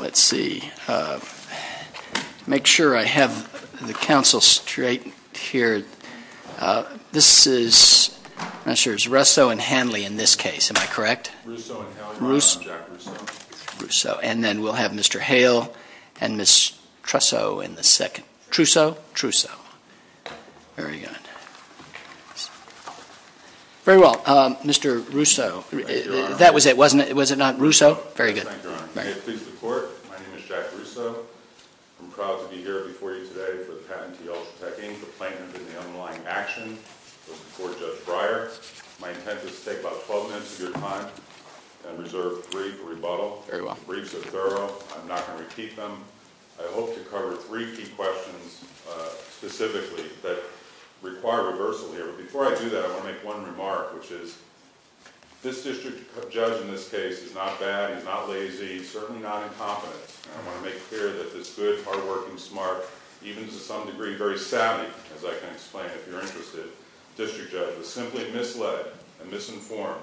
Let's see. Make sure I have the counsel straight here. This is Russo and Hanley in this case, am I correct? Russo and Hanley on Jack Russo. Russo. And then we'll have Mr. Hale and Ms. Russo in the second. Trusso? Trusso. Very good. Very well. Mr. Russo. That was it, wasn't it? Was it not? Russo? Very good. Thank you, Your Honor. May it please the Court? My name is Jack Russo. I'm proud to be here before you today for the patent in the underlying action to support Judge Breyer. My intent is to take about 12 minutes of your time and reserve a brief rebuttal. The briefs are thorough. I'm not going to repeat them. I hope to cover three key questions specifically that require reversal here. But before I do that, I want to make one remark, which is this district judge in this case is not bad, he's not lazy, he's certainly not incompetent. I want to make clear that this good, hardworking, smart, even to some degree very savvy, as I can explain, if you're interested, district judge was simply misled and misinformed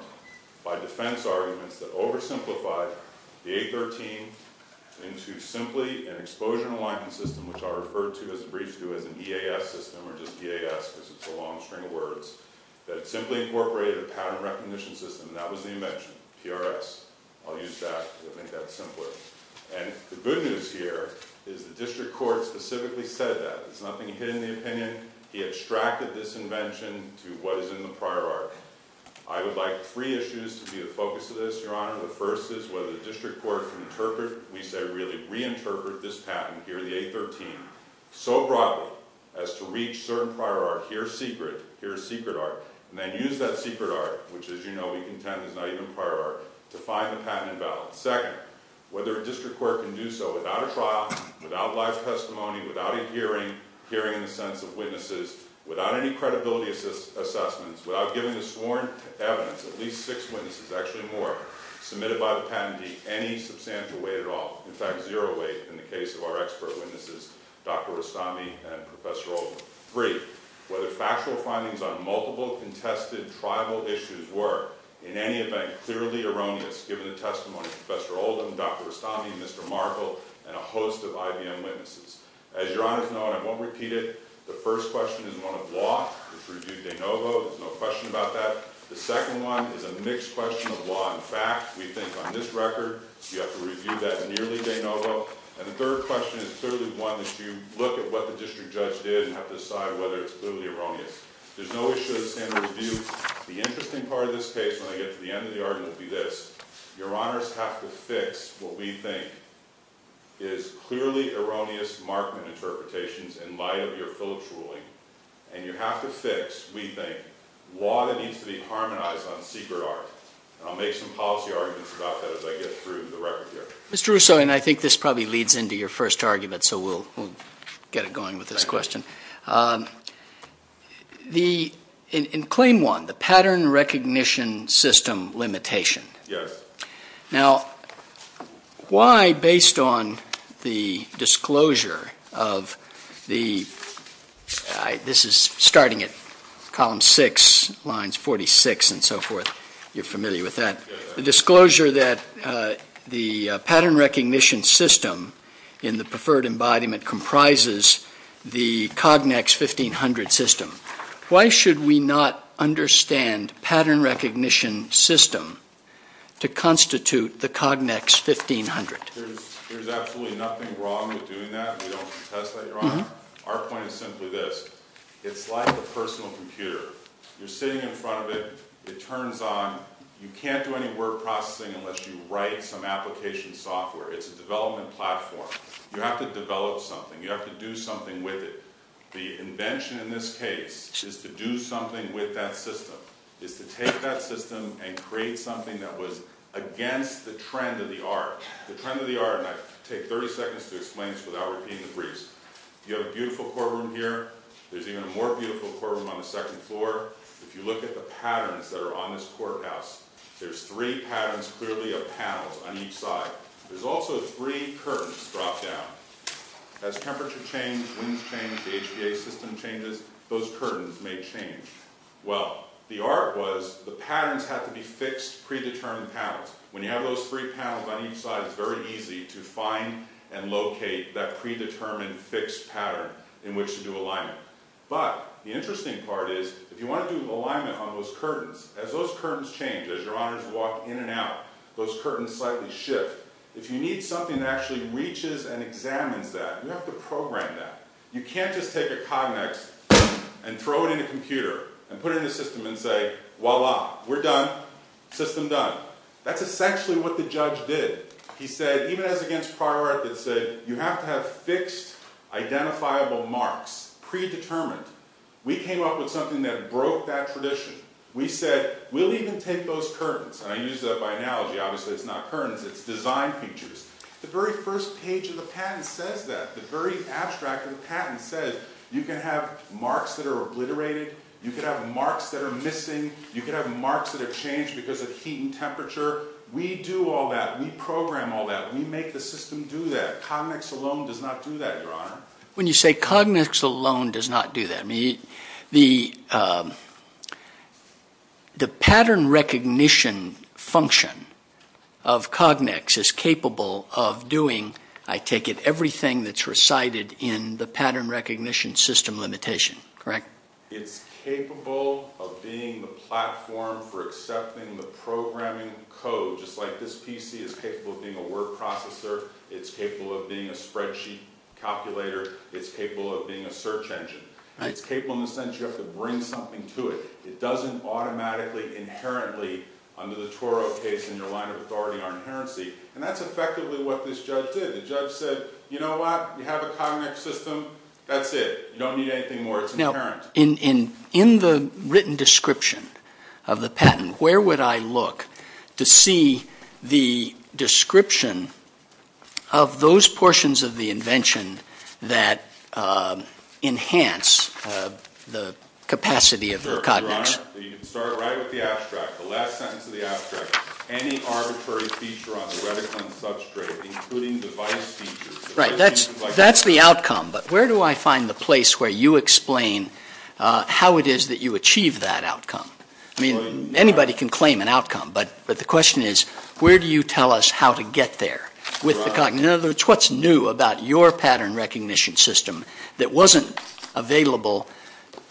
by defense arguments that oversimplified the 813 into simply an exposure and alignment system, which I'll refer to as a brief to as an EAS system or just EAS because it's a long string of words, that simply incorporated a pattern recognition system, and that was the invention, PRS. I'll use that to make that simpler. And the good news here is the district court specifically said that. It's nothing hidden in the opinion. He extracted this invention to what is in the prior art. I would like three issues to be the focus of this, Your Honor. The first is whether the district court can interpret, we say really reinterpret this pattern here, the 813, so broadly as to reach certain prior art, here's secret, here's secret art, and then use that secret art, which as you know we contend is not even prior art, to find the patent invalid. Second, whether a district court can do so without a trial, without live testimony, without a hearing, hearing in the sense of witnesses, without any credibility assessments, without giving a sworn evidence, at least six witnesses, actually more, submitted by the patentee, any substantial weight at all, in fact zero weight in the case of our expert witnesses, Dr. Rustami and Professor Oldham. Three, whether factual findings on multiple contested tribal issues were, in any event, clearly erroneous given the testimony of Professor Oldham, Dr. Rustami, Mr. Markel, and a host of IBM witnesses. As Your Honor has known, I won't repeat it, the first question is one of law, it's reviewed de novo, there's no question about that, the second one is a mixed question of law and fact, we think on this record, you have to review that nearly de novo, and the third question is clearly one that you look at what the district judge did and have to decide whether it's clearly erroneous. There's no issue of the standard review, the interesting part of this case when I get to the end of the argument will be this, Your Honors have to fix what we think is clearly erroneous Markman interpretations in light of your Phillips ruling, and you have to fix, we think, law that needs to be harmonized on secret art, and I'll make some policy arguments about that as I get through the record here. Mr. Russo, and I think this probably leads into your first argument, so we'll get it going with this question, in claim one, the pattern recognition system limitation, now why, based on the disclosure of the, this is starting at column six, lines 46 and so forth, you're familiar with that, the disclosure that the pattern recognition system in the preferred embodiment comprises the Cognex 1500 system, why should we not understand pattern recognition system to constitute the Cognex 1500? There's absolutely nothing wrong with doing that, we don't contest that, Your Honor, our point is simply this, it's like a personal computer, you're sitting in front of it, it turns on, you can't do any word processing unless you write some application software, it's a development platform, you have to develop something, you have to do something with it, the invention in this case is to do something with that system, is to take that system and create something that was against the trend of the art, the trend of the art, and I take 30 seconds to explain this without repeating the briefs, you have a beautiful courtroom here, there's even a more beautiful courtroom on the second floor, if you look at the patterns that are on this courthouse, there's three patterns clearly of panels on each side, there's also three curtains drop down, as temperature change, winds change, the HPA system changes, those curtains may change, well, the art was the patterns have to be fixed, predetermined panels, when you have those three panels on each side, it's very easy to find and locate that predetermined fixed pattern in which to do alignment, but the interesting part is, if you want to do alignment on those curtains, as those curtains change, as your Honours walk in and out, those curtains slightly shift, if you need something that actually reaches and examines that, you have to program that, you can't just take a Cognex and throw it in a computer and put it in a system and say, voila, we're done, system done, that's essentially what the judge did, he said, even as against prior records said, you have to have fixed identifiable marks, predetermined, we came up with something that broke that tradition, we said, we'll even take those curtains, I use that by analogy, obviously it's not curtains, it's design features, the very first page of the patent says that, the very abstract of the patent says, you can have marks that are obliterated, you can have marks that are missing, you can have marks that have changed because of heat and temperature, we do all that, we program all that, we make the system do that, Cognex alone does not do that, Your Honour. When you say Cognex alone does not do that, the pattern recognition function of Cognex is capable of doing, I take it, everything that's recited in the pattern recognition system limitation, correct? It's capable of being the platform for accepting the programming code, just like this PC is capable of being a spreadsheet calculator, it's capable of being a search engine, it's capable in the sense that you have to bring something to it, it doesn't automatically inherently under the Toro case in your line of authority are inherently, and that's effectively what this judge did, the judge said, you know what, you have a Cognex system, that's it, In the written description of the patent, where would I look to see the description of those portions of the invention that enhance the capacity of the Cognex? Your Honour, you can start right with the abstract, the last sentence of the abstract, any arbitrary feature on the reticulum substrate, including device features. Right, that's the outcome, but where do I find the place where you explain how it is that you achieve that outcome? I mean, anybody can claim an outcome, but the question is, where do you tell us how to get there with the Cognex? In other words, what's new about your pattern recognition system that wasn't available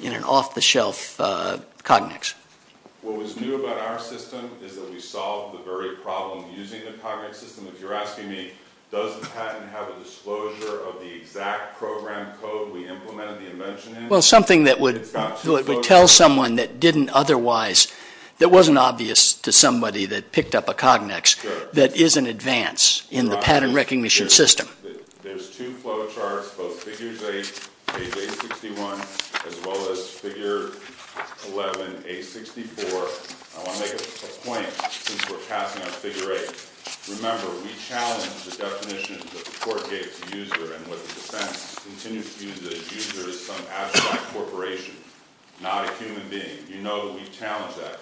in an off-the-shelf Cognex? What was new about our system is that we solved the very problem using the Cognex system. You're asking me, does the patent have a disclosure of the exact program code we implemented the invention in? Well, something that would tell someone that didn't otherwise, that wasn't obvious to somebody that picked up a Cognex, that is an advance in the pattern recognition system. There's two flow charts, both Figures 8 and A61, as well as Figure 11, A64. I want to make a point, since we're passing on Figure 8. Remember, we challenge the definition that the Court gave to user and what the defense continues to use, that a user is some abstract corporation, not a human being. You know that we challenge that.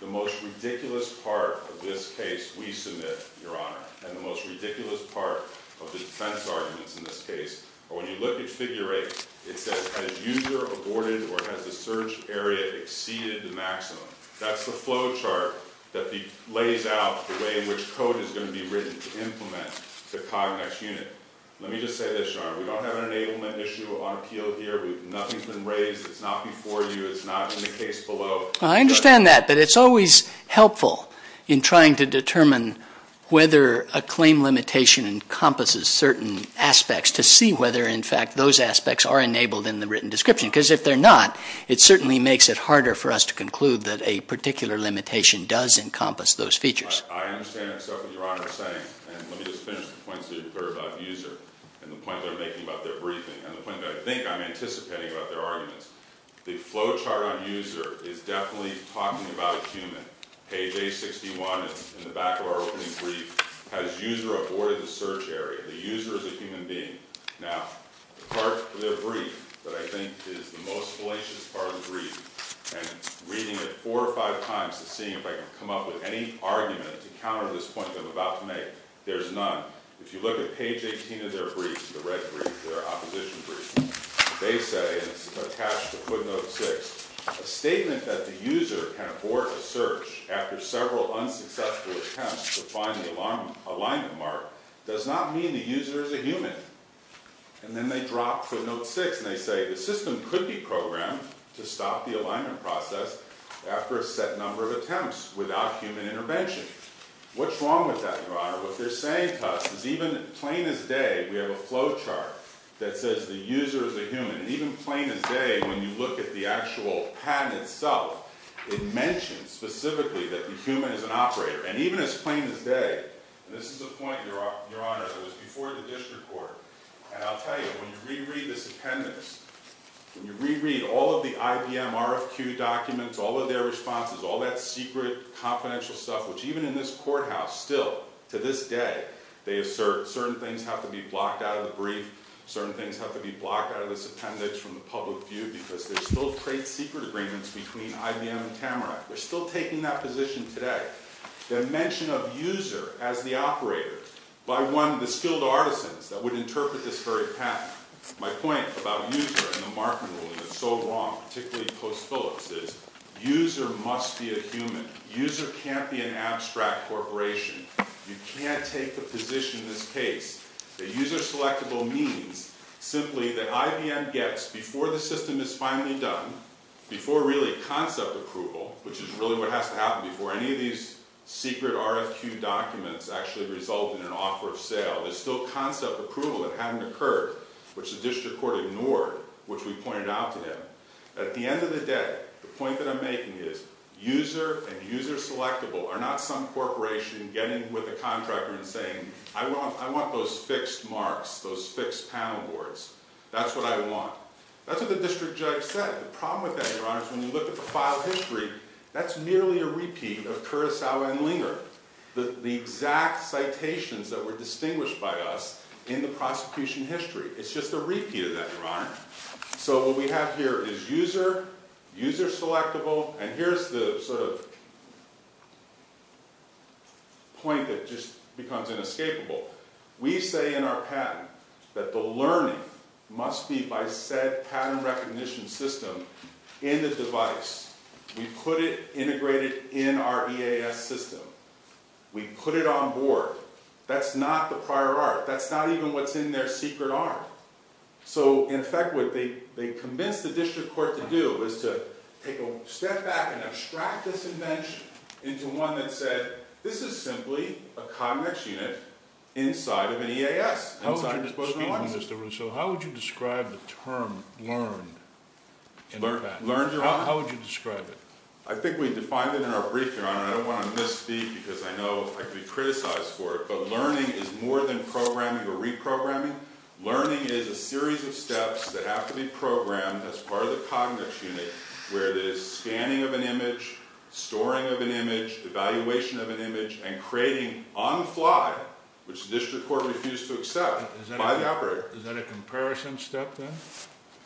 The most ridiculous part of this case we submit, Your Honor, and the most ridiculous part of the defense arguments in this case are when you look at Figure 8, it says, has user aborted or has the search area exceeded the maximum? That's the flow chart that lays out the way in which code is going to be written to implement the Cognex unit. Let me just say this, Your Honor. We don't have an enablement issue on appeal here. Nothing's been raised. It's not before you. It's not in the case below. I understand that, but it's always helpful in trying to determine whether a claim limitation encompasses certain aspects to see whether, in fact, those aspects are enabled in the written description. Because if they're not, it certainly makes it harder for us to conclude that a particular limitation does encompass those features. I understand and accept what Your Honor is saying. And let me just finish the points that you've heard about user and the point they're making about their briefing and the point that I think I'm anticipating about their arguments. The flow chart on user is definitely talking about a human. Page 861 in the back of our opening brief has user aborted the search area. The user is a human being. Now, the part of their brief that I think is the most fallacious part of the brief, and reading it four or five times to see if I can come up with any argument to counter this point that I'm about to make, there's none. If you look at page 18 of their brief, the red brief, their opposition brief, they say, and it's attached to footnote 6, a statement that the user can abort a search after several unsuccessful attempts to find the alignment mark does not mean the user is a human. And then they drop footnote 6 and they say the system could be programmed to stop the alignment process after a set number of attempts without human intervention. What's wrong with that, Your Honor? What they're saying to us is even plain as day, we have a flow chart that says the user is a human. And even plain as day, when you look at the actual patent itself, it mentions specifically that the human is an operator. And even as plain as day, and this is the point, Your Honor, it was before the district court, and I'll tell you, when you reread this appendix, when you reread all of the IBM RFQ documents, all of their responses, all that secret confidential stuff, which even in this courthouse still, to this day, they assert certain things have to be blocked out of the brief, certain things have to be blocked out of this appendix from the public view because there's still trade secret agreements between IBM and Tamarack. They're still taking that position today. The mention of user as the operator by one of the skilled artisans that would interpret this very patent. My point about user and the marking rule that's so wrong, particularly in Post Phillips, is user must be a human. User can't be an abstract corporation. You can't take the position in this case that user selectable means simply that IBM gets before the system is finally done, before really concept approval, which is really what has to happen before any of these secret RFQ documents actually result in an offer of sale, there's still concept approval that hadn't occurred, which the district court ignored, which we pointed out to them. At the end of the day, the point that I'm making is user and user selectable are not some corporation getting with a contractor and saying, I want those fixed marks, those fixed panel boards. That's what I want. That's what the district judge said. The problem with that, Your Honor, is when you look at the file history, that's merely a repeat of Kurosawa and Linger, the exact citations that were distinguished by us in the prosecution history. It's just a repeat of that, Your Honor. So what we have here is user, user selectable, and here's the sort of point that just becomes inescapable. We say in our patent that the learning must be by said patent recognition system in the device. We put it integrated in our EAS system. We put it on board. That's not the prior art. That's not even what's in their secret arm. So, in effect, what they convinced the district court to do is to take a step back and abstract this invention into one that said, this is simply a cognate unit inside of an EAS. How would you describe the term learned in the patent? How would you describe it? I think we defined it in our brief, Your Honor. I don't want to misspeak because I know I could be criticized for it, but learning is more than programming or reprogramming. Learning is a series of steps that have to be programmed as part of the cognate unit where there's scanning of an image, storing of an image, evaluation of an image, and creating on the fly, which the district court refused to accept by the operator. Is that a comparison step then?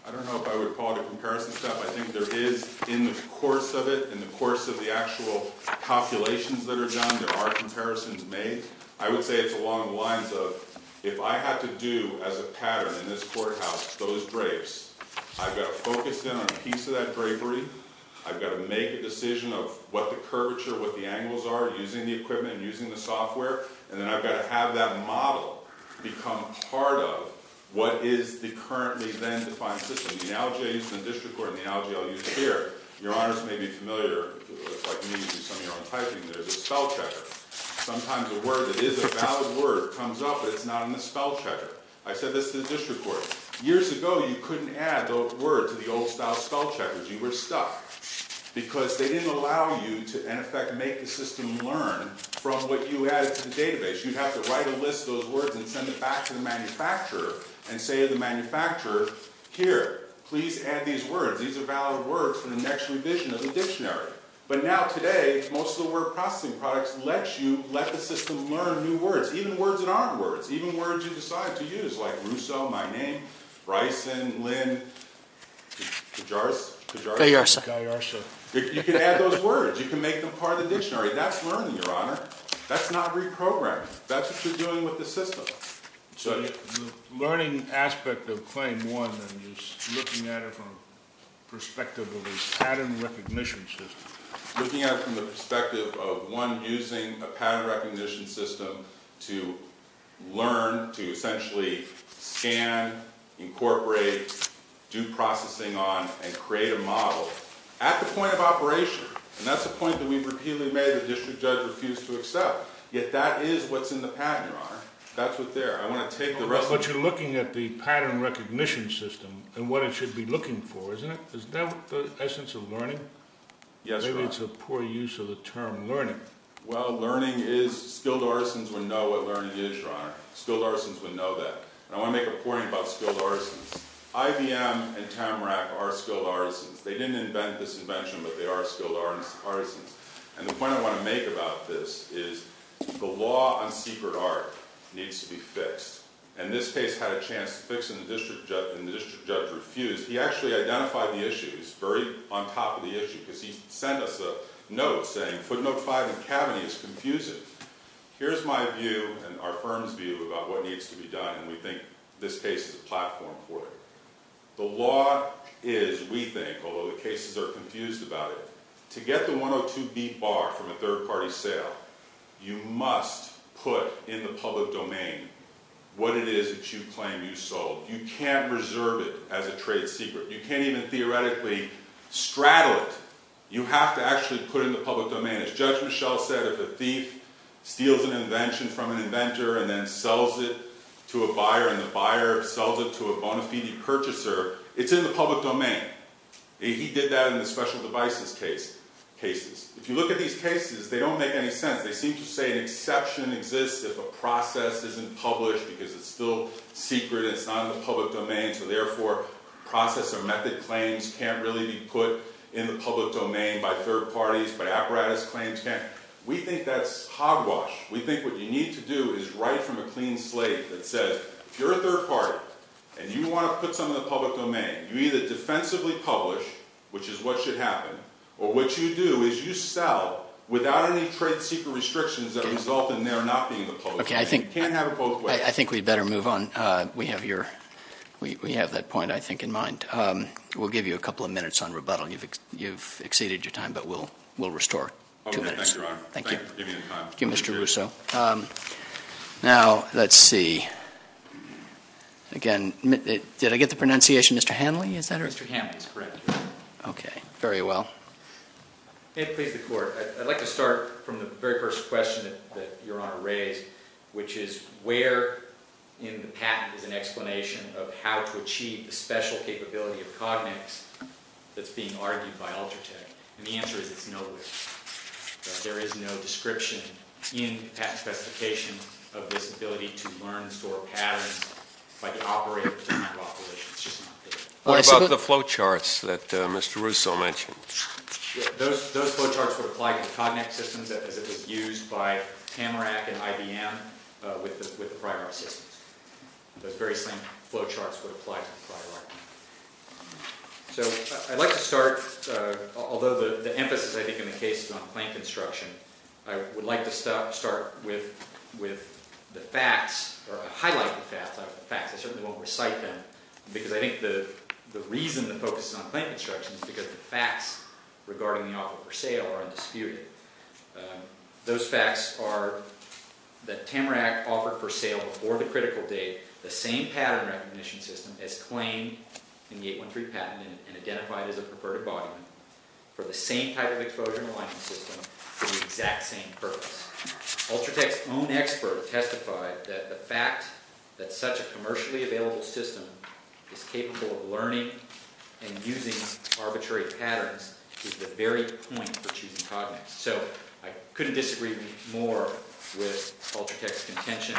I don't know if I would call it a comparison step. I think there is in the course of it, in the course of the actual calculations that are done, there are comparisons made. I would say it's along the lines of, if I had to do as a pattern in this courthouse those drapes, I've got to focus in on a piece of that drapery. I've got to make a decision of what the curvature, what the angles are using the equipment and using the software. And then I've got to have that model become part of what is the currently then defined system. The LGL used in the district court and the LGL used here. Your Honors may be familiar, like me, with some of your own typing. There's a spell checker. Sometimes a word that is a valid word comes up, but it's not in the spell checker. I said this to the district court. Years ago you couldn't add the word to the old style spell checkers. You were stuck. Because they didn't allow you to, in effect, make the system learn from what you added to the database. You'd have to write a list of those words and send it back to the manufacturer and say to the manufacturer, here, please add these words. These are valid words for the next revision of the dictionary. But now today, most of the word processing products let you, let the system learn new words. Even words you decide to use, like Russo, my name, Bryson, Lynn, Kajarsa. You can add those words. You can make them part of the dictionary. That's learning, Your Honor. That's not reprogramming. That's what you're doing with the system. The learning aspect of Claim 1 is looking at it from the perspective of a pattern recognition system. Looking at it from the perspective of, one, using a pattern recognition system to learn, to essentially scan, incorporate, do processing on, and create a model at the point of operation. And that's a point that we repeatedly made that the district judge refused to accept. Yet that is what's in the pattern, Your Honor. That's what's there. I want to take the rest of it. But you're looking at the pattern recognition system and what it should be looking for, isn't it? Isn't that the essence of learning? Yes, Your Honor. Maybe it's a poor use of the term learning. Well, learning is—skilled artisans would know what learning is, Your Honor. Skilled artisans would know that. And I want to make a point about skilled artisans. IBM and Tamarack are skilled artisans. They didn't invent this invention, but they are skilled artisans. And the point I want to make about this is the law on secret art needs to be fixed. And this case had a chance to fix it, and the district judge refused. He actually identified the issue. He's very on top of the issue because he sent us a note saying, Footnote 5 in Kavanagh is confusing. Here's my view and our firm's view about what needs to be done, and we think this case is a platform for it. The law is, we think, although the cases are confused about it, to get the 102B bar from a third-party sale, you must put in the public domain what it is that you claim you sold. You can't reserve it as a trade secret. You can't even theoretically straddle it. You have to actually put it in the public domain. As Judge Michel said, if a thief steals an invention from an inventor and then sells it to a buyer, and the buyer sells it to a bona fide purchaser, it's in the public domain. He did that in the special devices cases. If you look at these cases, they don't make any sense. They seem to say an exception exists if a process isn't published because it's still secret and it's not in the public domain, so therefore process or method claims can't really be put in the public domain by third parties, but apparatus claims can't. We think that's hogwash. We think what you need to do is write from a clean slate that says, if you're a third party and you want to put some in the public domain, you either defensively publish, which is what should happen, or what you do is you sell without any trade secret restrictions that result in there not being in the public domain. Okay, I think we'd better move on. We have that point, I think, in mind. We'll give you a couple of minutes on rebuttal. You've exceeded your time, but we'll restore two minutes. Thank you, Your Honor. Thank you for giving me the time. Thank you, Mr. Russo. Now, let's see. Again, did I get the pronunciation Mr. Hanley? Mr. Hanley is correct, Your Honor. Okay, very well. May it please the Court. I'd like to start from the very first question that Your Honor raised, which is where in the patent is an explanation of how to achieve the special capability of cognates that's being argued by Ultratech? And the answer is it's nowhere. There is no description in the patent specification of this ability to learn, store patterns by the operators and micro-operations. What about the flow charts that Mr. Russo mentioned? Those flow charts would apply to cognate systems as it was used by Tamarack and IBM with the Pryor systems. Those very same flow charts would apply to Pryor. So I'd like to start, although the emphasis I think in the case is on plant construction, I would like to start with the facts or highlight the facts. I certainly won't recite them because I think the reason the focus is on plant construction is because the facts regarding the offer for sale are undisputed. Those facts are that Tamarack offered for sale before the critical date the same pattern recognition system as claimed in the 813 patent and identified as a perverted body for the same type of exposure and alignment system for the exact same purpose. Ultratech's own expert testified that the fact that such a commercially available system is capable of learning and using arbitrary patterns is the very point for choosing cognates. So I couldn't disagree more with Ultratech's contention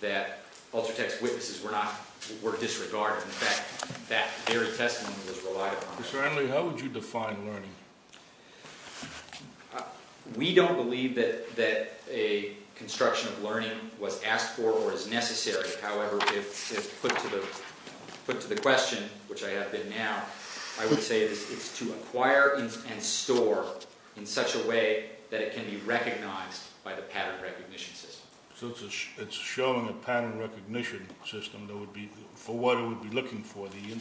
that Ultratech's witnesses were disregarded. In fact, that very testimony was relied upon. Mr. Annerley, how would you define learning? We don't believe that a construction of learning was asked for or is necessary. However, if put to the question, which I have been now, I would say it's to acquire and store in such a way that it can be recognized by the pattern recognition system. So it's showing a pattern recognition system for what it would be looking for, the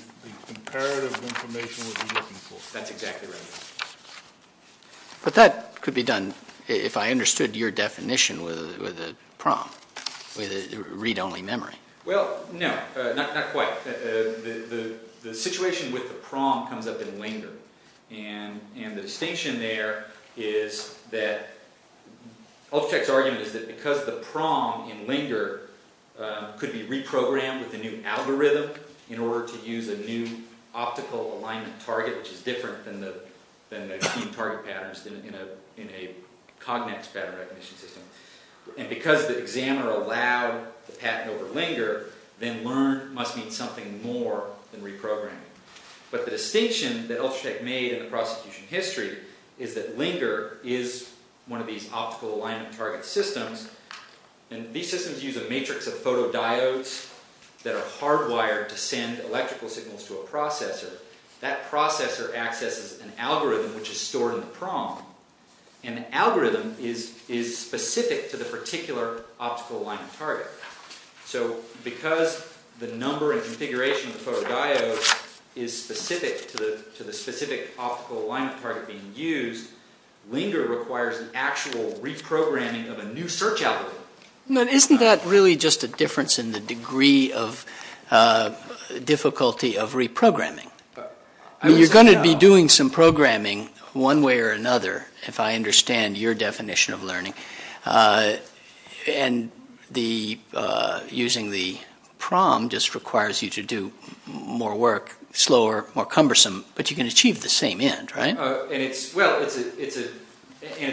imperative information it would be looking for. That's exactly right. But that could be done, if I understood your definition, with a PROM, with a read-only memory. Well, no, not quite. The situation with the PROM comes up in LINGER, and the distinction there is that Ultratech's argument is that because the PROM in LINGER could be reprogrammed with a new algorithm in order to use a new optical alignment target, which is different than the key target patterns in a cognate pattern recognition system, and because the examiner allowed the patent over LINGER, then learn must mean something more than reprogramming. But the distinction that Ultratech made in the prosecution history is that LINGER is one of these optical alignment target systems, and these systems use a matrix of photodiodes that are hardwired to send electrical signals to a processor. That processor accesses an algorithm which is stored in the PROM, and the algorithm is specific to the particular optical alignment target. So because the number and configuration of the photodiodes is specific to the specific optical alignment target being used, LINGER requires an actual reprogramming of a new search algorithm. Isn't that really just a difference in the degree of difficulty of reprogramming? You're going to be doing some programming one way or another, if I understand your definition of learning, and using the PROM just requires you to do more work, slower, more cumbersome, but you can achieve the same end, right? And it's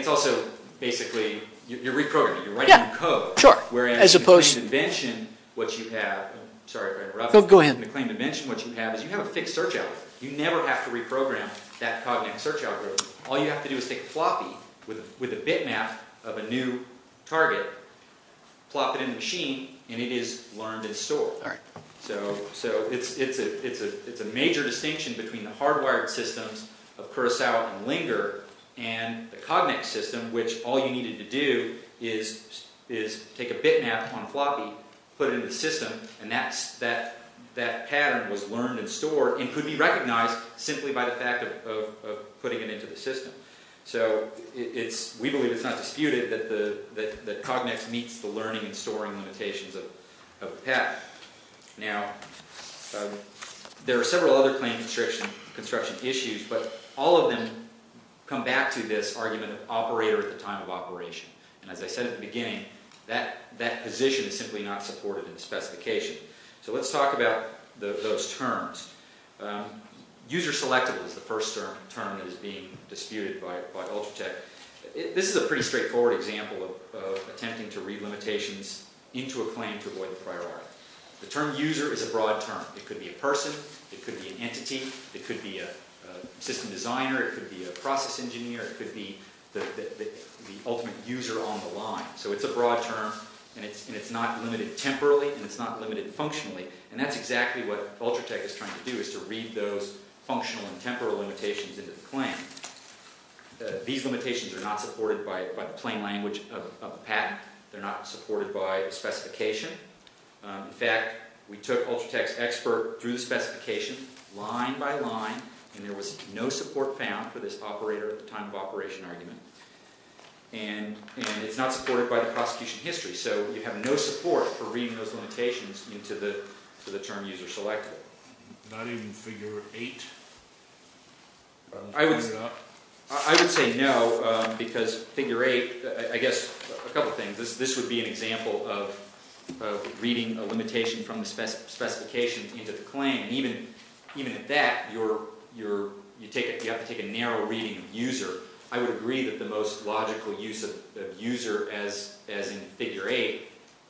also basically, you're reprogramming, you're writing code, whereas in the McLean invention, what you have is you have a fixed search algorithm. You never have to reprogram that cognitive search algorithm. All you have to do is take a floppy with a bitmap of a new target, plop it in the machine, and it is learned and stored. So it's a major distinction between the hardwired systems of Curaçao and LINGER, and the Cognex system, which all you needed to do is take a bitmap on a floppy, put it in the system, and that pattern was learned and stored, and could be recognized simply by the fact of putting it into the system. So we believe it's not disputed that Cognex meets the learning and storing limitations of PET. Now, there are several other claim construction issues, but all of them come back to this argument of operator at the time of operation. And as I said at the beginning, that position is simply not supported in the specification. So let's talk about those terms. User-selectable is the first term that is being disputed by Ultratech. This is a pretty straightforward example of attempting to read limitations into a claim to avoid the priority. The term user is a broad term. It could be a person, it could be an entity, it could be a system designer, it could be a process engineer, it could be the ultimate user on the line. So it's a broad term, and it's not limited temporally, and it's not limited functionally. And that's exactly what Ultratech is trying to do, is to read those functional and temporal limitations into the claim. These limitations are not supported by the plain language of the patent. They're not supported by the specification. In fact, we took Ultratech's expert through the specification, line by line, and there was no support found for this operator at the time of operation argument. And it's not supported by the prosecution history, so you have no support for reading those limitations into the term user-selectable. Not even figure 8? I would say no, because figure 8, I guess, a couple of things. This would be an example of reading a limitation from the specification into the claim. Even at that, you have to take a narrow reading of user. I would agree that the most logical use of user, as in figure 8,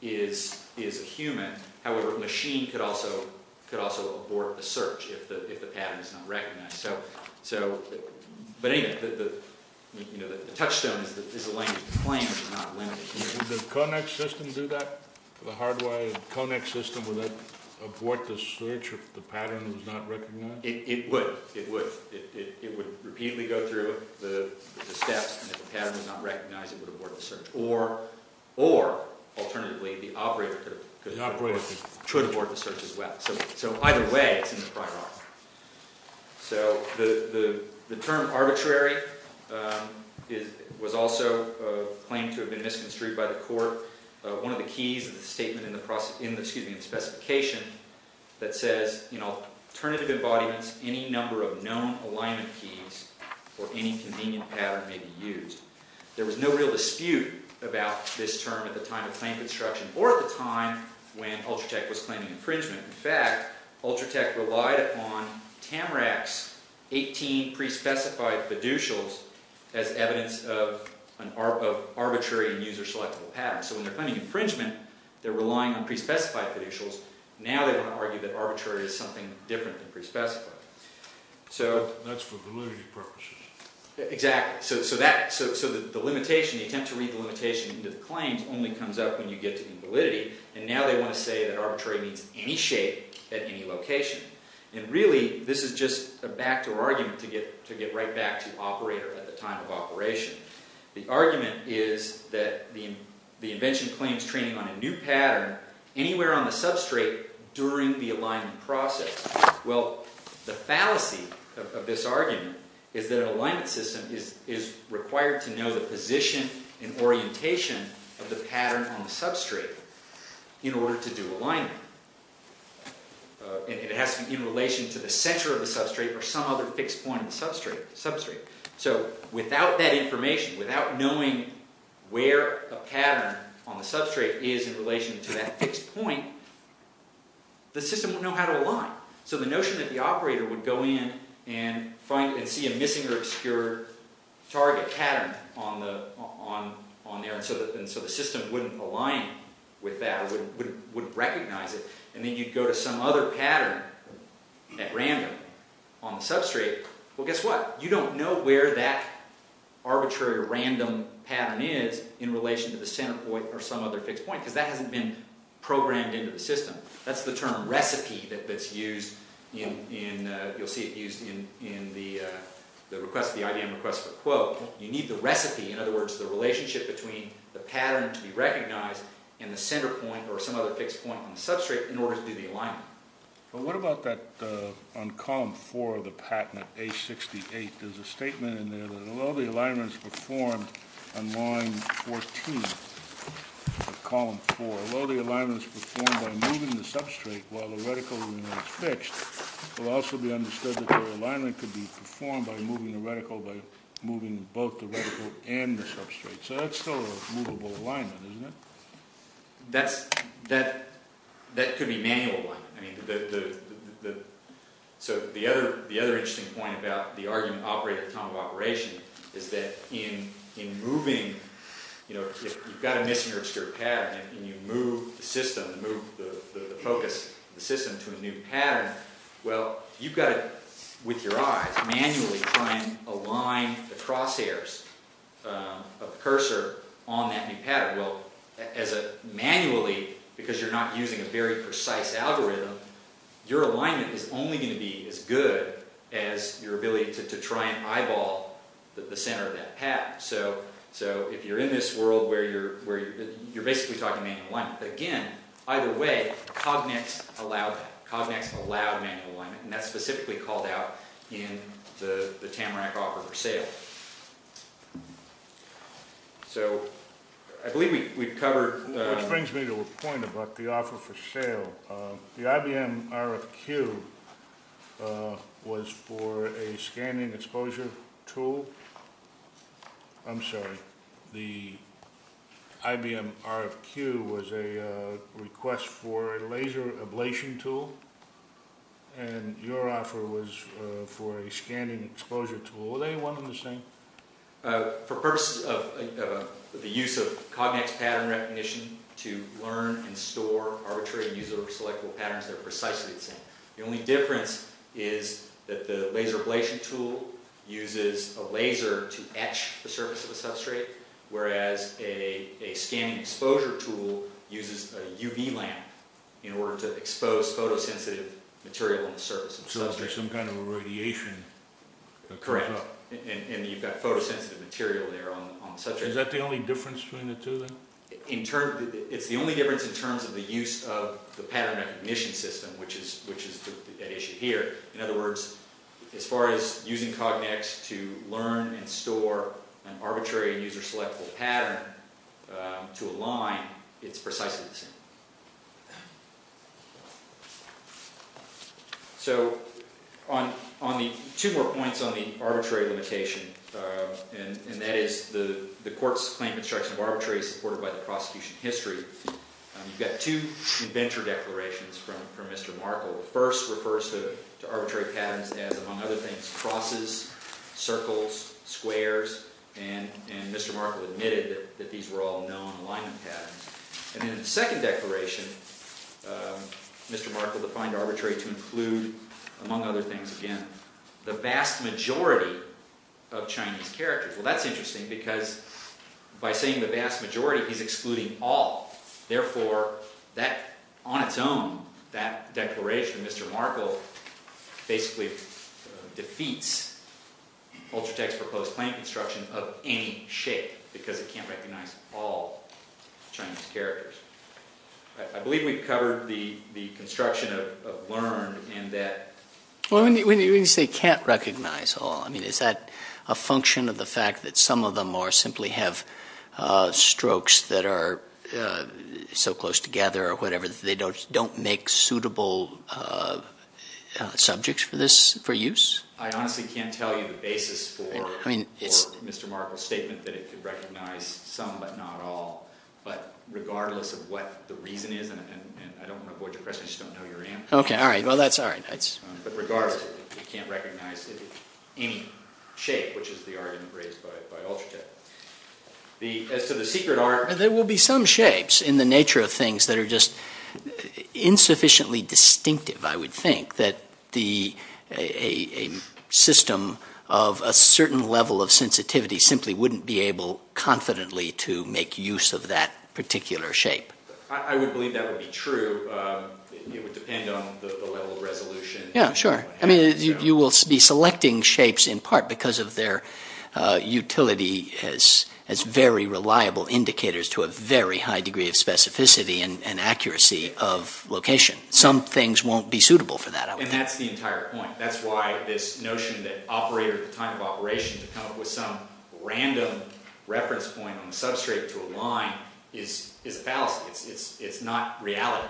is a human. However, a machine could also abort the search if the patent is not recognized. So, but anyway, the touchstone is the language. The claim is not limited. Would the Conex system do that? The hardwired Conex system, would that abort the search if the patent was not recognized? It would. It would. It would repeatedly go through the steps, and if the patent was not recognized, it would abort the search. Or, alternatively, the operator could abort the search as well. So either way, it's in the prior art. So the term arbitrary was also claimed to have been misconstrued by the court. One of the keys of the statement in the specification that says, alternative embodiments, any number of known alignment keys or any convenient pattern may be used. There was no real dispute about this term at the time of claim construction or at the time when Ultratech was claiming infringement. In fact, Ultratech relied upon Tamrac's 18 pre-specified fiducials as evidence of arbitrary and user-selectable patents. So when they're claiming infringement, they're relying on pre-specified fiducials. Now they want to argue that arbitrary is something different than pre-specified. That's for validity purposes. Exactly. So the attempt to read the limitation into the claims only comes up when you get to invalidity, and now they want to say that arbitrary means any shape at any location. And really, this is just a backdoor argument to get right back to operator at the time of operation. The argument is that the invention claims training on a new pattern anywhere on the substrate during the alignment process. Well, the fallacy of this argument is that an alignment system is required to know the position and orientation of the pattern on the substrate in order to do alignment. It has to be in relation to the center of the substrate or some other fixed point in the substrate. So without that information, without knowing where a pattern on the substrate is in relation to that fixed point, the system wouldn't know how to align. So the notion that the operator would go in and see a missing or obscure target pattern on there, and so the system wouldn't align with that or wouldn't recognize it, and then you'd go to some other pattern at random on the substrate. Well, guess what? You don't know where that arbitrary or random pattern is in relation to the center point or some other fixed point because that hasn't been programmed into the system. That's the term recipe that's used in, you'll see it used in the request, the IDM request for a quote. You need the recipe, in other words, the relationship between the pattern to be recognized and the center point or some other fixed point on the substrate in order to do the alignment. But what about that on column four of the patent, A68, there's a statement in there that although the alignment is performed on line 14 of column four, although the alignment is performed by moving the substrate while the reticle remains fixed, it will also be understood that the alignment could be performed by moving the reticle by moving both the reticle and the substrate. So that's still a movable alignment, isn't it? That could be manual alignment. So the other interesting point about the argument operate at the time of operation is that in moving, if you've got a missing or obscured pattern and you move the system, move the focus of the system to a new pattern, well, you've got to, with your eyes, manually try and align the crosshairs of the cursor on that new pattern. Well, manually, because you're not using a very precise algorithm, your alignment is only going to be as good as your ability to try and eyeball the center of that path. So if you're in this world where you're basically talking manual alignment, again, either way, Cognex allowed manual alignment, and that's specifically called out in the Tamarack offer for sale. So I believe we've covered... Which brings me to a point about the offer for sale. The IBM RFQ was for a scanning exposure tool. I'm sorry. The IBM RFQ was a request for a laser ablation tool, and your offer was for a scanning exposure tool. Were they one and the same? For purposes of the use of Cognex pattern recognition to learn and store arbitrary user selectable patterns, they're precisely the same. The only difference is that the laser ablation tool uses a laser to etch the surface of a substrate, whereas a scanning exposure tool uses a UV lamp in order to expose photosensitive material on the surface of the substrate. Because there's some kind of irradiation that comes up. Correct. And you've got photosensitive material there on the substrate. Is that the only difference between the two then? It's the only difference in terms of the use of the pattern recognition system, which is at issue here. In other words, as far as using Cognex to learn and store an arbitrary user selectable pattern to align, it's precisely the same. So two more points on the arbitrary limitation, and that is the court's claim of instruction of arbitrary is supported by the prosecution history. You've got two adventure declarations from Mr. Markle. The first refers to arbitrary patterns as, among other things, crosses, circles, squares, and Mr. Markle admitted that these were all known alignment patterns. And in the second declaration, Mr. Markle defined arbitrary to include, among other things again, the vast majority of Chinese characters. Well, that's interesting because by saying the vast majority, he's excluding all. Therefore, on its own, that declaration, Mr. Markle basically defeats Ultratech's proposed plan of construction of any shape because it can't recognize all Chinese characters. I believe we've covered the construction of learn and that... Well, when you say can't recognize all, I mean, is that a function of the fact that some of them more simply have strokes that are so close together or whatever that they don't make suitable subjects for use? I honestly can't tell you the basis for Mr. Markle's statement that it could recognize some but not all, but regardless of what the reason is, and I don't want to avoid your question, I just don't know your answer. Okay, all right. Well, that's all right. But regardless, it can't recognize any shape, which is the argument raised by Ultratech. As to the secret art... There will be some shapes in the nature of things that are just insufficiently distinctive, I would think, that a system of a certain level of sensitivity simply wouldn't be able confidently to make use of that particular shape. I would believe that would be true. It would depend on the level of resolution. Yeah, sure. I mean, you will be selecting shapes in part because of their utility as very reliable indicators to a very high degree of specificity and accuracy of location. Some things won't be suitable for that, I would think. And that's the entire point. That's why this notion that the time of operation to come up with some random reference point on the substrate to align is a fallacy. It's not reality.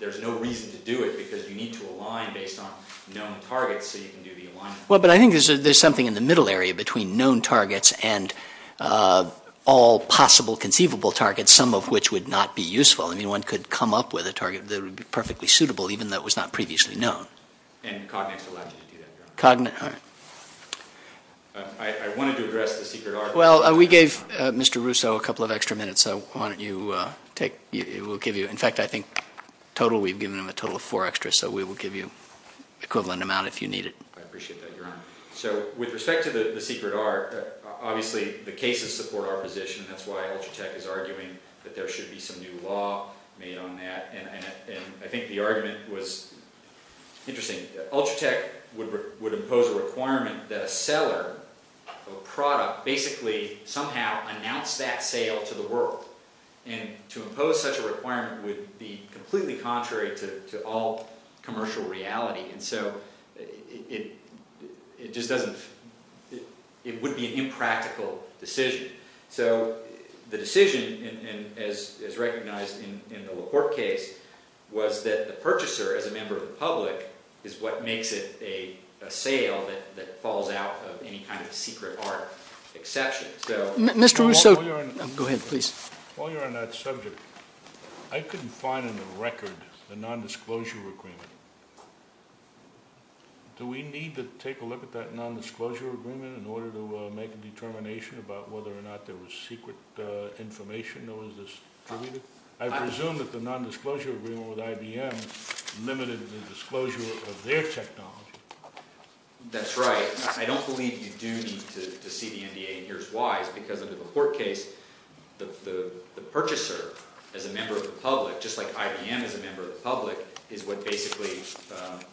There's no reason to do it because you need to align based on known targets so you can do the alignment. Well, but I think there's something in the middle area between known targets and all possible conceivable targets, some of which would not be useful. I mean, one could come up with a target that would be perfectly suitable even though it was not previously known. And Cognex allowed you to do that, Your Honor. Cognex, all right. I wanted to address the Secret R. Well, we gave Mr. Russo a couple of extra minutes. Why don't you take – we'll give you – in fact, I think total, we've given him a total of four extra, so we will give you the equivalent amount if you need it. I appreciate that, Your Honor. So with respect to the Secret R, obviously the cases support our position. That's why Ultratech is arguing that there should be some new law made on that. And I think the argument was interesting. Ultratech would impose a requirement that a seller of a product basically somehow announced that sale to the world. And to impose such a requirement would be completely contrary to all commercial reality. And so it just doesn't – it would be an impractical decision. So the decision, as recognized in the LaPorte case, was that the purchaser, as a member of the public, is what makes it a sale that falls out of any kind of Secret R exception. So – Mr. Russo, go ahead, please. While you're on that subject, I couldn't find in the record the nondisclosure agreement. Do we need to take a look at that nondisclosure agreement in order to make a determination about whether or not there was secret information that was distributed? I presume that the nondisclosure agreement with IBM limited the disclosure of their technology. That's right. I don't believe you do need to see the NDA in here's why. It's because under the LaPorte case, the purchaser, as a member of the public, just like IBM is a member of the public, is what basically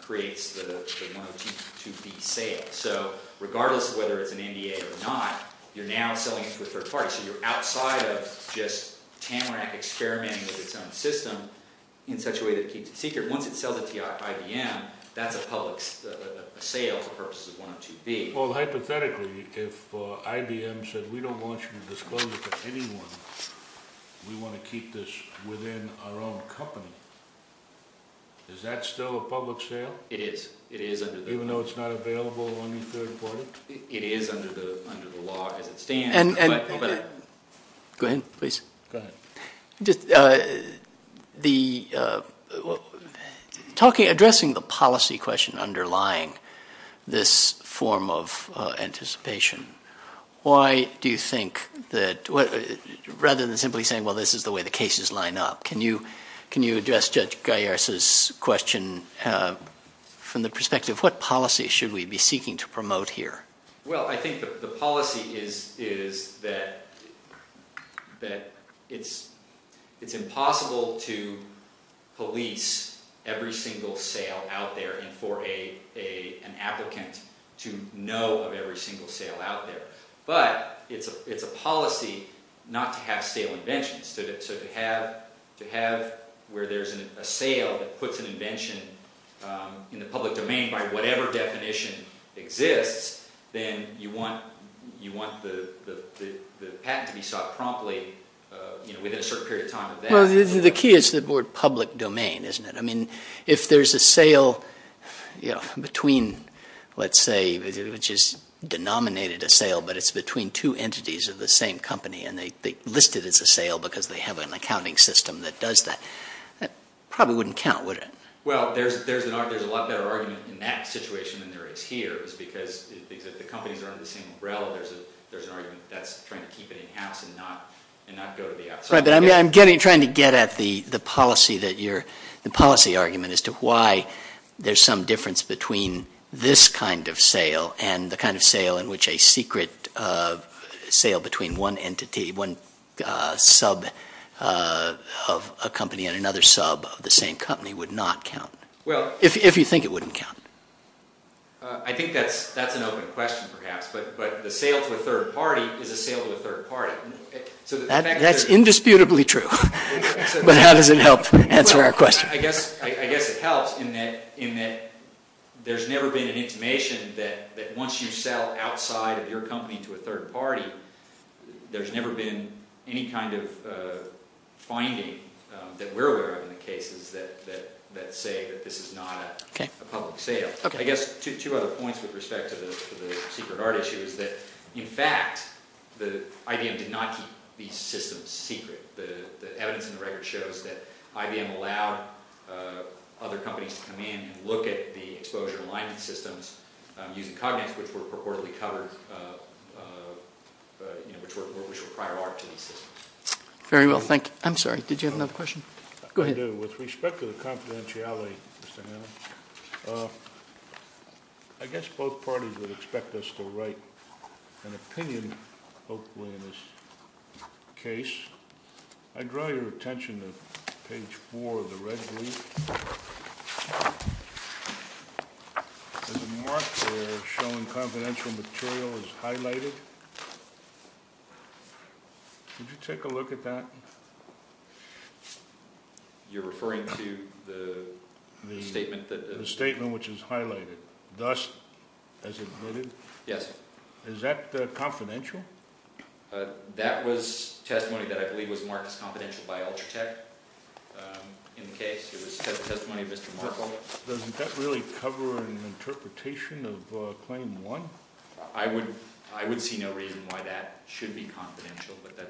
creates the 102B sale. So regardless of whether it's an NDA or not, you're now selling it to a third party. So you're outside of just Tamarack experimenting with its own system in such a way that it keeps it secret. Once it sells it to IBM, that's a public sale for purposes of 102B. Well, hypothetically, if IBM said, We don't want you to disclose it to anyone. We want to keep this within our own company. Is that still a public sale? It is. Even though it's not available to any third party? It is under the law as it stands. Go ahead, please. Go ahead. Addressing the policy question underlying this form of anticipation, why do you think that rather than simply saying, Well, this is the way the cases line up, can you address Judge Gaiars' question from the perspective of what policy should we be seeking to promote here? Well, I think the policy is that it's impossible to police every single sale out there and for an applicant to know of every single sale out there. But it's a policy not to have sale inventions. So to have where there's a sale that puts an invention in the public domain by whatever definition exists, then you want the patent to be sought promptly within a certain period of time. Well, the key is the word public domain, isn't it? I mean, if there's a sale between, let's say, which is denominated a sale, but it's between two entities of the same company and they list it as a sale because they have an accounting system that does that, that probably wouldn't count, would it? Well, there's a lot better argument in that situation than there is here. It's because the companies are under the same umbrella. There's an argument that's trying to keep it in-house and not go to the outside. Right, but I'm trying to get at the policy argument as to why there's some difference between this kind of sale and the kind of sale in which a secret sale between one entity, one sub of a company and another sub of the same company would not count, if you think it wouldn't count. I think that's an open question, perhaps, but the sale to a third party is a sale to a third party. That's indisputably true, but how does it help answer our question? I guess it helps in that there's never been an intimation that once you sell outside of your company to a third party, there's never been any kind of finding that we're aware of in the cases that say that this is not a public sale. I guess two other points with respect to the secret art issue is that, in fact, IBM did not keep these systems secret. The evidence in the record shows that IBM allowed other companies to come in and look at the exposure alignment systems using Cognite, which were purportedly covered, which were prior art to these systems. Very well, thank you. I'm sorry, did you have another question? Go ahead. I do. With respect to the confidentiality, Mr. Hanlon, I guess both parties would expect us to write an opinion, hopefully, in this case. I draw your attention to page 4 of the red brief. There's a mark there showing confidential material is highlighted. Could you take a look at that? You're referring to the statement? The statement, which is highlighted. Thus, as admitted? Yes. Is that confidential? That was testimony that I believe was marked as confidential by Ultratech in the case. It was testimony of Mr. Markholm. Doesn't that really cover an interpretation of Claim 1? I would see no reason why that should be confidential, but that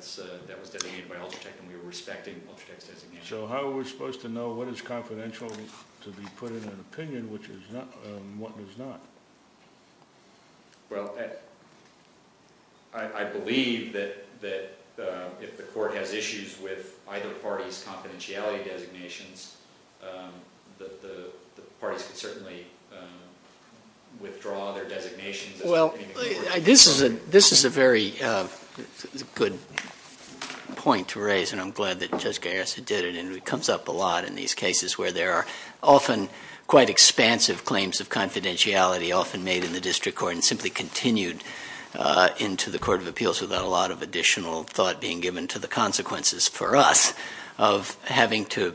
was designated by Ultratech and we were respecting Ultratech's designation. So how are we supposed to know what is confidential to be put in an opinion and what is not? Well, I believe that if the court has issues with either party's confidentiality designations, the parties can certainly withdraw their designations. Well, this is a very good point to raise, and I'm glad that Judge Gaius did it. And it comes up a lot in these cases where there are often quite expansive claims of confidentiality often made in the district court and simply continued into the Court of Appeals without a lot of additional thought being given to the consequences for us of having to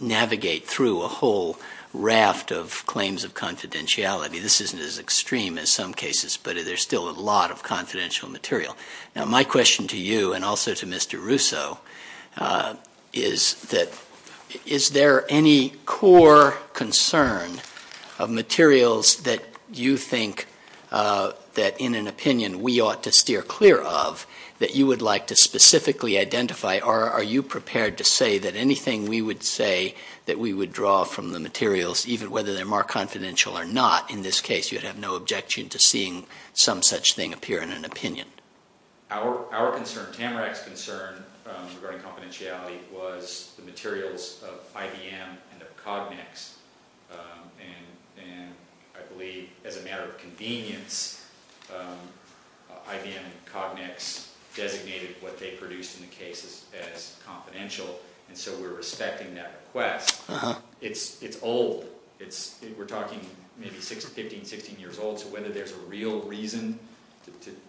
navigate through a whole raft of claims of confidentiality. This isn't as extreme as some cases, but there's still a lot of confidential material. Now, my question to you and also to Mr. Russo is that is there any core concern of materials that you think that in an opinion we ought to steer clear of that you would like to specifically identify or are you prepared to say that anything we would say that we would draw from the materials, even whether they're more confidential or not in this case, you'd have no objection to seeing some such thing appear in an opinion? Our concern, Tamarack's concern regarding confidentiality, was the materials of IBM and of Cognex. And I believe as a matter of convenience, IBM and Cognex designated what they produced in the case as confidential, and so we're respecting that request. It's old. We're talking maybe 15, 16 years old, so whether there's a real reason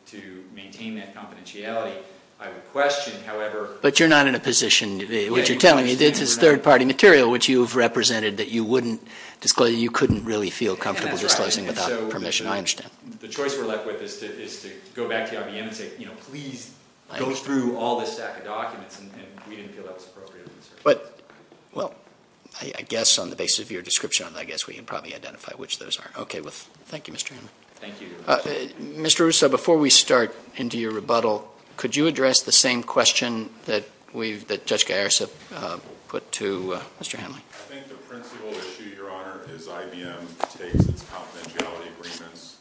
to maintain that confidentiality, I would question, however— But you're not in a position, what you're telling me, this is third-party material which you've represented that you couldn't really feel comfortable disclosing without permission. I understand. The choice we're left with is to go back to IBM and say, you know, please go through all this stack of documents, and we didn't feel that was appropriate. Well, I guess on the basis of your description, I guess we can probably identify which those are. Okay. Thank you, Mr. Hammer. Thank you. Mr. Russo, before we start into your rebuttal, could you address the same question that we've—that Judge Garris put to Mr. Hanley? I think the principal issue, Your Honor, is IBM takes its confidentiality agreements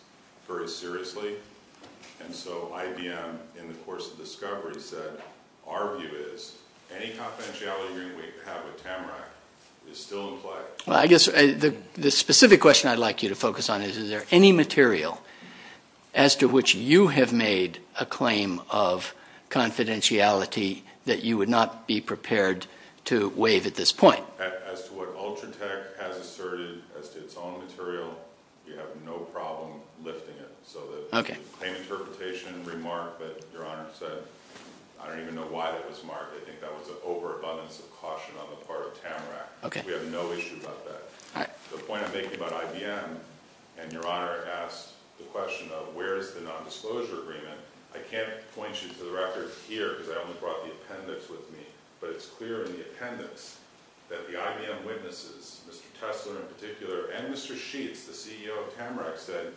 very seriously. And so IBM, in the course of discovery, said our view is any confidentiality agreement we have with Tamarack is still in play. Well, I guess the specific question I'd like you to focus on is, is there any material as to which you have made a claim of confidentiality that you would not be prepared to waive at this point? As to what Ultratech has asserted as to its own material, we have no problem lifting it. So the same interpretation and remark that Your Honor said, I don't even know why that was marked. I think that was an overabundance of caution on the part of Tamarack. Okay. We have no issue about that. All right. The point I'm making about IBM, and Your Honor asked the question of where is the nondisclosure agreement, I can't point you to the record here because I only brought the appendix with me, but it's clear in the appendix that the IBM witnesses, Mr. Tesler in particular, and Mr. Sheets, the CEO of Tamarack, said,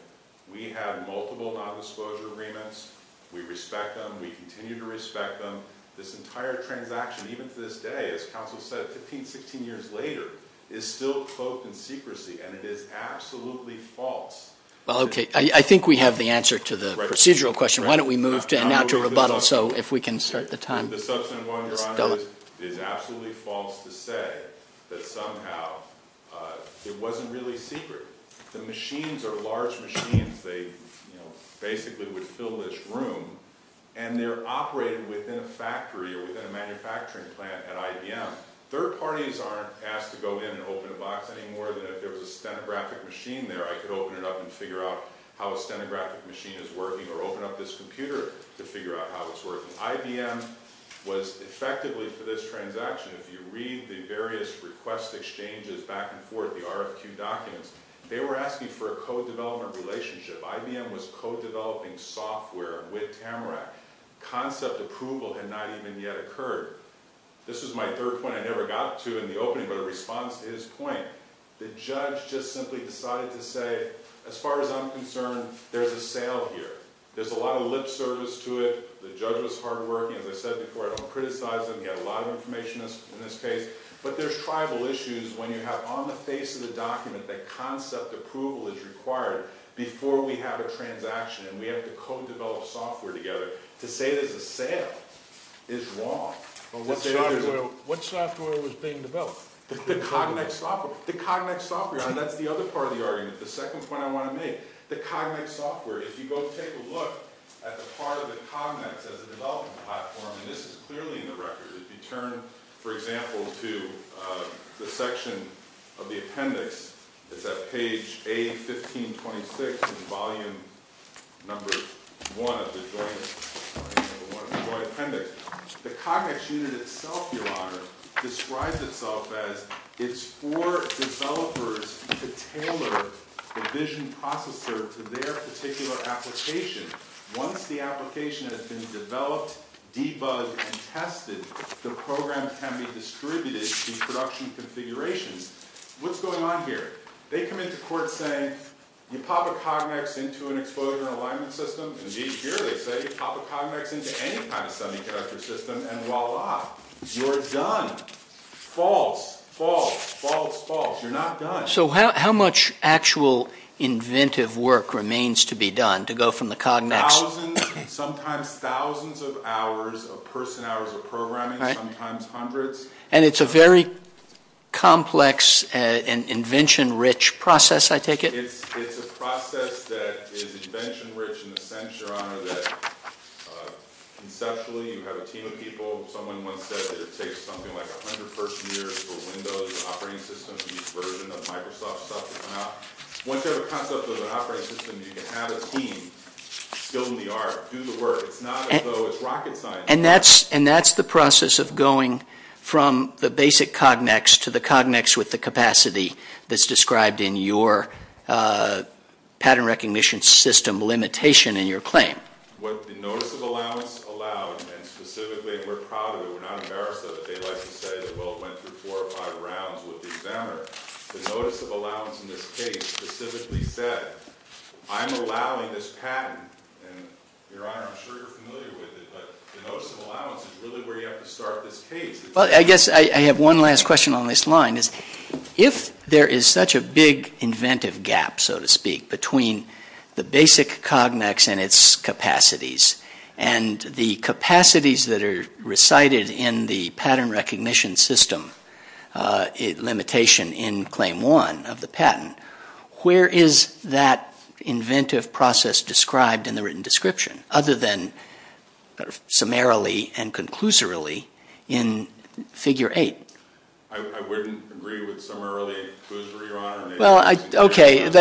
we have multiple nondisclosure agreements. We respect them. We continue to respect them. This entire transaction, even to this day, as counsel said, 15, 16 years later, is still coked in secrecy, and it is absolutely false. Well, okay. I think we have the answer to the procedural question. Why don't we move now to rebuttal so if we can start the time. The substantive one, Your Honor, is it is absolutely false to say that somehow it wasn't really secret. The machines are large machines. They basically would fill this room, and they're operated within a factory or within a manufacturing plant at IBM. Third parties aren't asked to go in and open a box anymore than if there was a stenographic machine there. I could open it up and figure out how a stenographic machine is working or open up this computer to figure out how it's working. IBM was effectively for this transaction, if you read the various request exchanges back and forth, the RFQ documents, they were asking for a co-development relationship. IBM was co-developing software with Tamarack. Concept approval had not even yet occurred. This was my third point I never got to in the opening, but a response to his point. The judge just simply decided to say, as far as I'm concerned, there's a sale here. There's a lot of lip service to it. The judge was hardworking. As I said before, I don't criticize him. He had a lot of information in this case. But there's tribal issues when you have on the face of the document that concept approval is required before we have a transaction, and we have to co-develop software together. To say there's a sale is wrong. What software was being developed? The Cognex software. The Cognex software, and that's the other part of the argument. The second point I want to make, the Cognex software, if you go take a look at the part of the Cognex as a development platform, and this is clearly in the record, if you turn, for example, to the section of the appendix, it's at page A1526 in volume number one of the joint appendix. The Cognex unit itself, Your Honor, describes itself as it's for developers to tailor the vision processor to their particular application. Once the application has been developed, debugged, and tested, the program can be distributed to production configurations. What's going on here? They come into court saying you pop a Cognex into an exposure and alignment system. Indeed, here they say you pop a Cognex into any kind of sending character system, and voila, you're done. False, false, false, false. You're not done. So how much actual inventive work remains to be done to go from the Cognex? Thousands, sometimes thousands of hours of person hours of programming, sometimes hundreds. And it's a very complex and invention-rich process, I take it? It's a process that is invention-rich in the sense, Your Honor, that conceptually you have a team of people. Someone once said that it takes something like 100 person years for Windows operating system to use version of Microsoft stuff to come out. Once you have a concept of an operating system, you can have a team, skill in the art, do the work. It's not as though it's rocket science. And that's the process of going from the basic Cognex to the Cognex with the capacity that's described in your pattern recognition system limitation in your claim. What the notice of allowance allowed, and specifically, and we're proud of it, we're not embarrassed of it. They like to say that, well, it went through four or five rounds with the examiner. The notice of allowance in this case specifically said, I'm allowing this pattern. And, Your Honor, I'm sure you're familiar with it, but the notice of allowance is really where you have to start this case. Well, I guess I have one last question on this line. If there is such a big inventive gap, so to speak, between the basic Cognex and its capacities, and the capacities that are recited in the pattern recognition system limitation in claim one of the patent, where is that inventive process described in the written description other than summarily and conclusorily in figure eight? I wouldn't agree with summarily and conclusorily, Your Honor. Well, okay. Do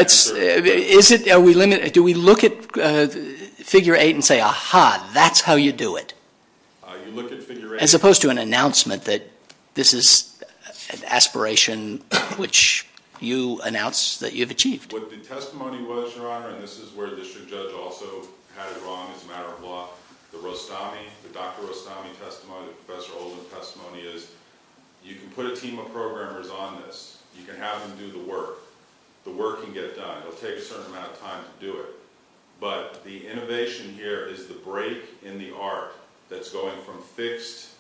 we look at figure eight and say, aha, that's how you do it? You look at figure eight. As opposed to an announcement that this is an aspiration which you announced that you've achieved. What the testimony was, Your Honor, and this is where the district judge also had it wrong as a matter of law, the Dr. Rostami testimony, Professor Olin's testimony, is you can put a team of programmers on this. You can have them do the work. The work can get done. It'll take a certain amount of time to do it. But the innovation here is the break in the art that's going from fixed,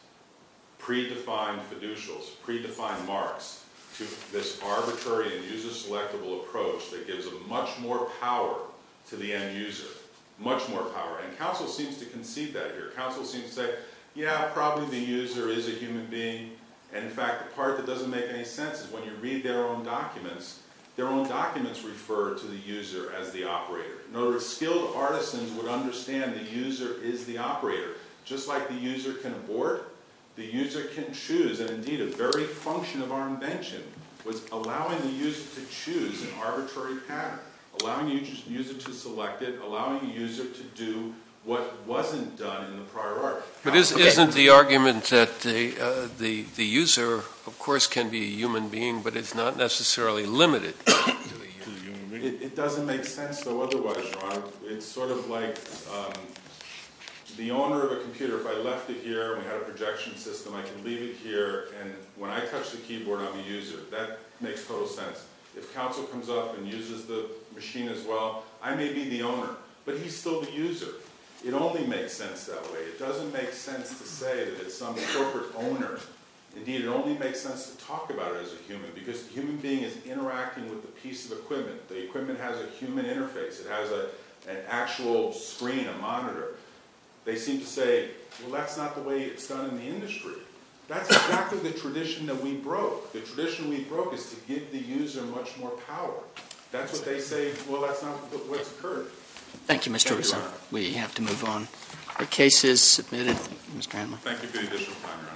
predefined fiducials, predefined marks, to this arbitrary and user-selectable approach that gives much more power to the end user, much more power. And counsel seems to concede that here. Counsel seems to say, yeah, probably the user is a human being. And, in fact, the part that doesn't make any sense is when you read their own documents, their own documents refer to the user as the operator. In other words, skilled artisans would understand the user is the operator. Just like the user can abort, the user can choose. And, indeed, a very function of our invention was allowing the user to choose an arbitrary path, allowing the user to select it, allowing the user to do what wasn't done in the prior art. But isn't the argument that the user, of course, can be a human being, but it's not necessarily limited to a human being? It doesn't make sense, though, otherwise, Ron. It's sort of like the owner of a computer. If I left it here and we had a projection system, I can leave it here, and when I touch the keyboard, I'm a user. That makes total sense. If counsel comes up and uses the machine as well, I may be the owner, but he's still the user. It only makes sense that way. It doesn't make sense to say that it's some corporate owner. Indeed, it only makes sense to talk about it as a human, because the human being is interacting with the piece of equipment. The equipment has a human interface. It has an actual screen, a monitor. They seem to say, well, that's not the way it's done in the industry. That's exactly the tradition that we broke. The tradition we broke is to give the user much more power. That's what they say. Well, that's not what's occurred. Thank you, Mr. Russo. We have to move on. The case is submitted. Thank you, Mr. Kramer. Thank you for the additional time, Your Honor.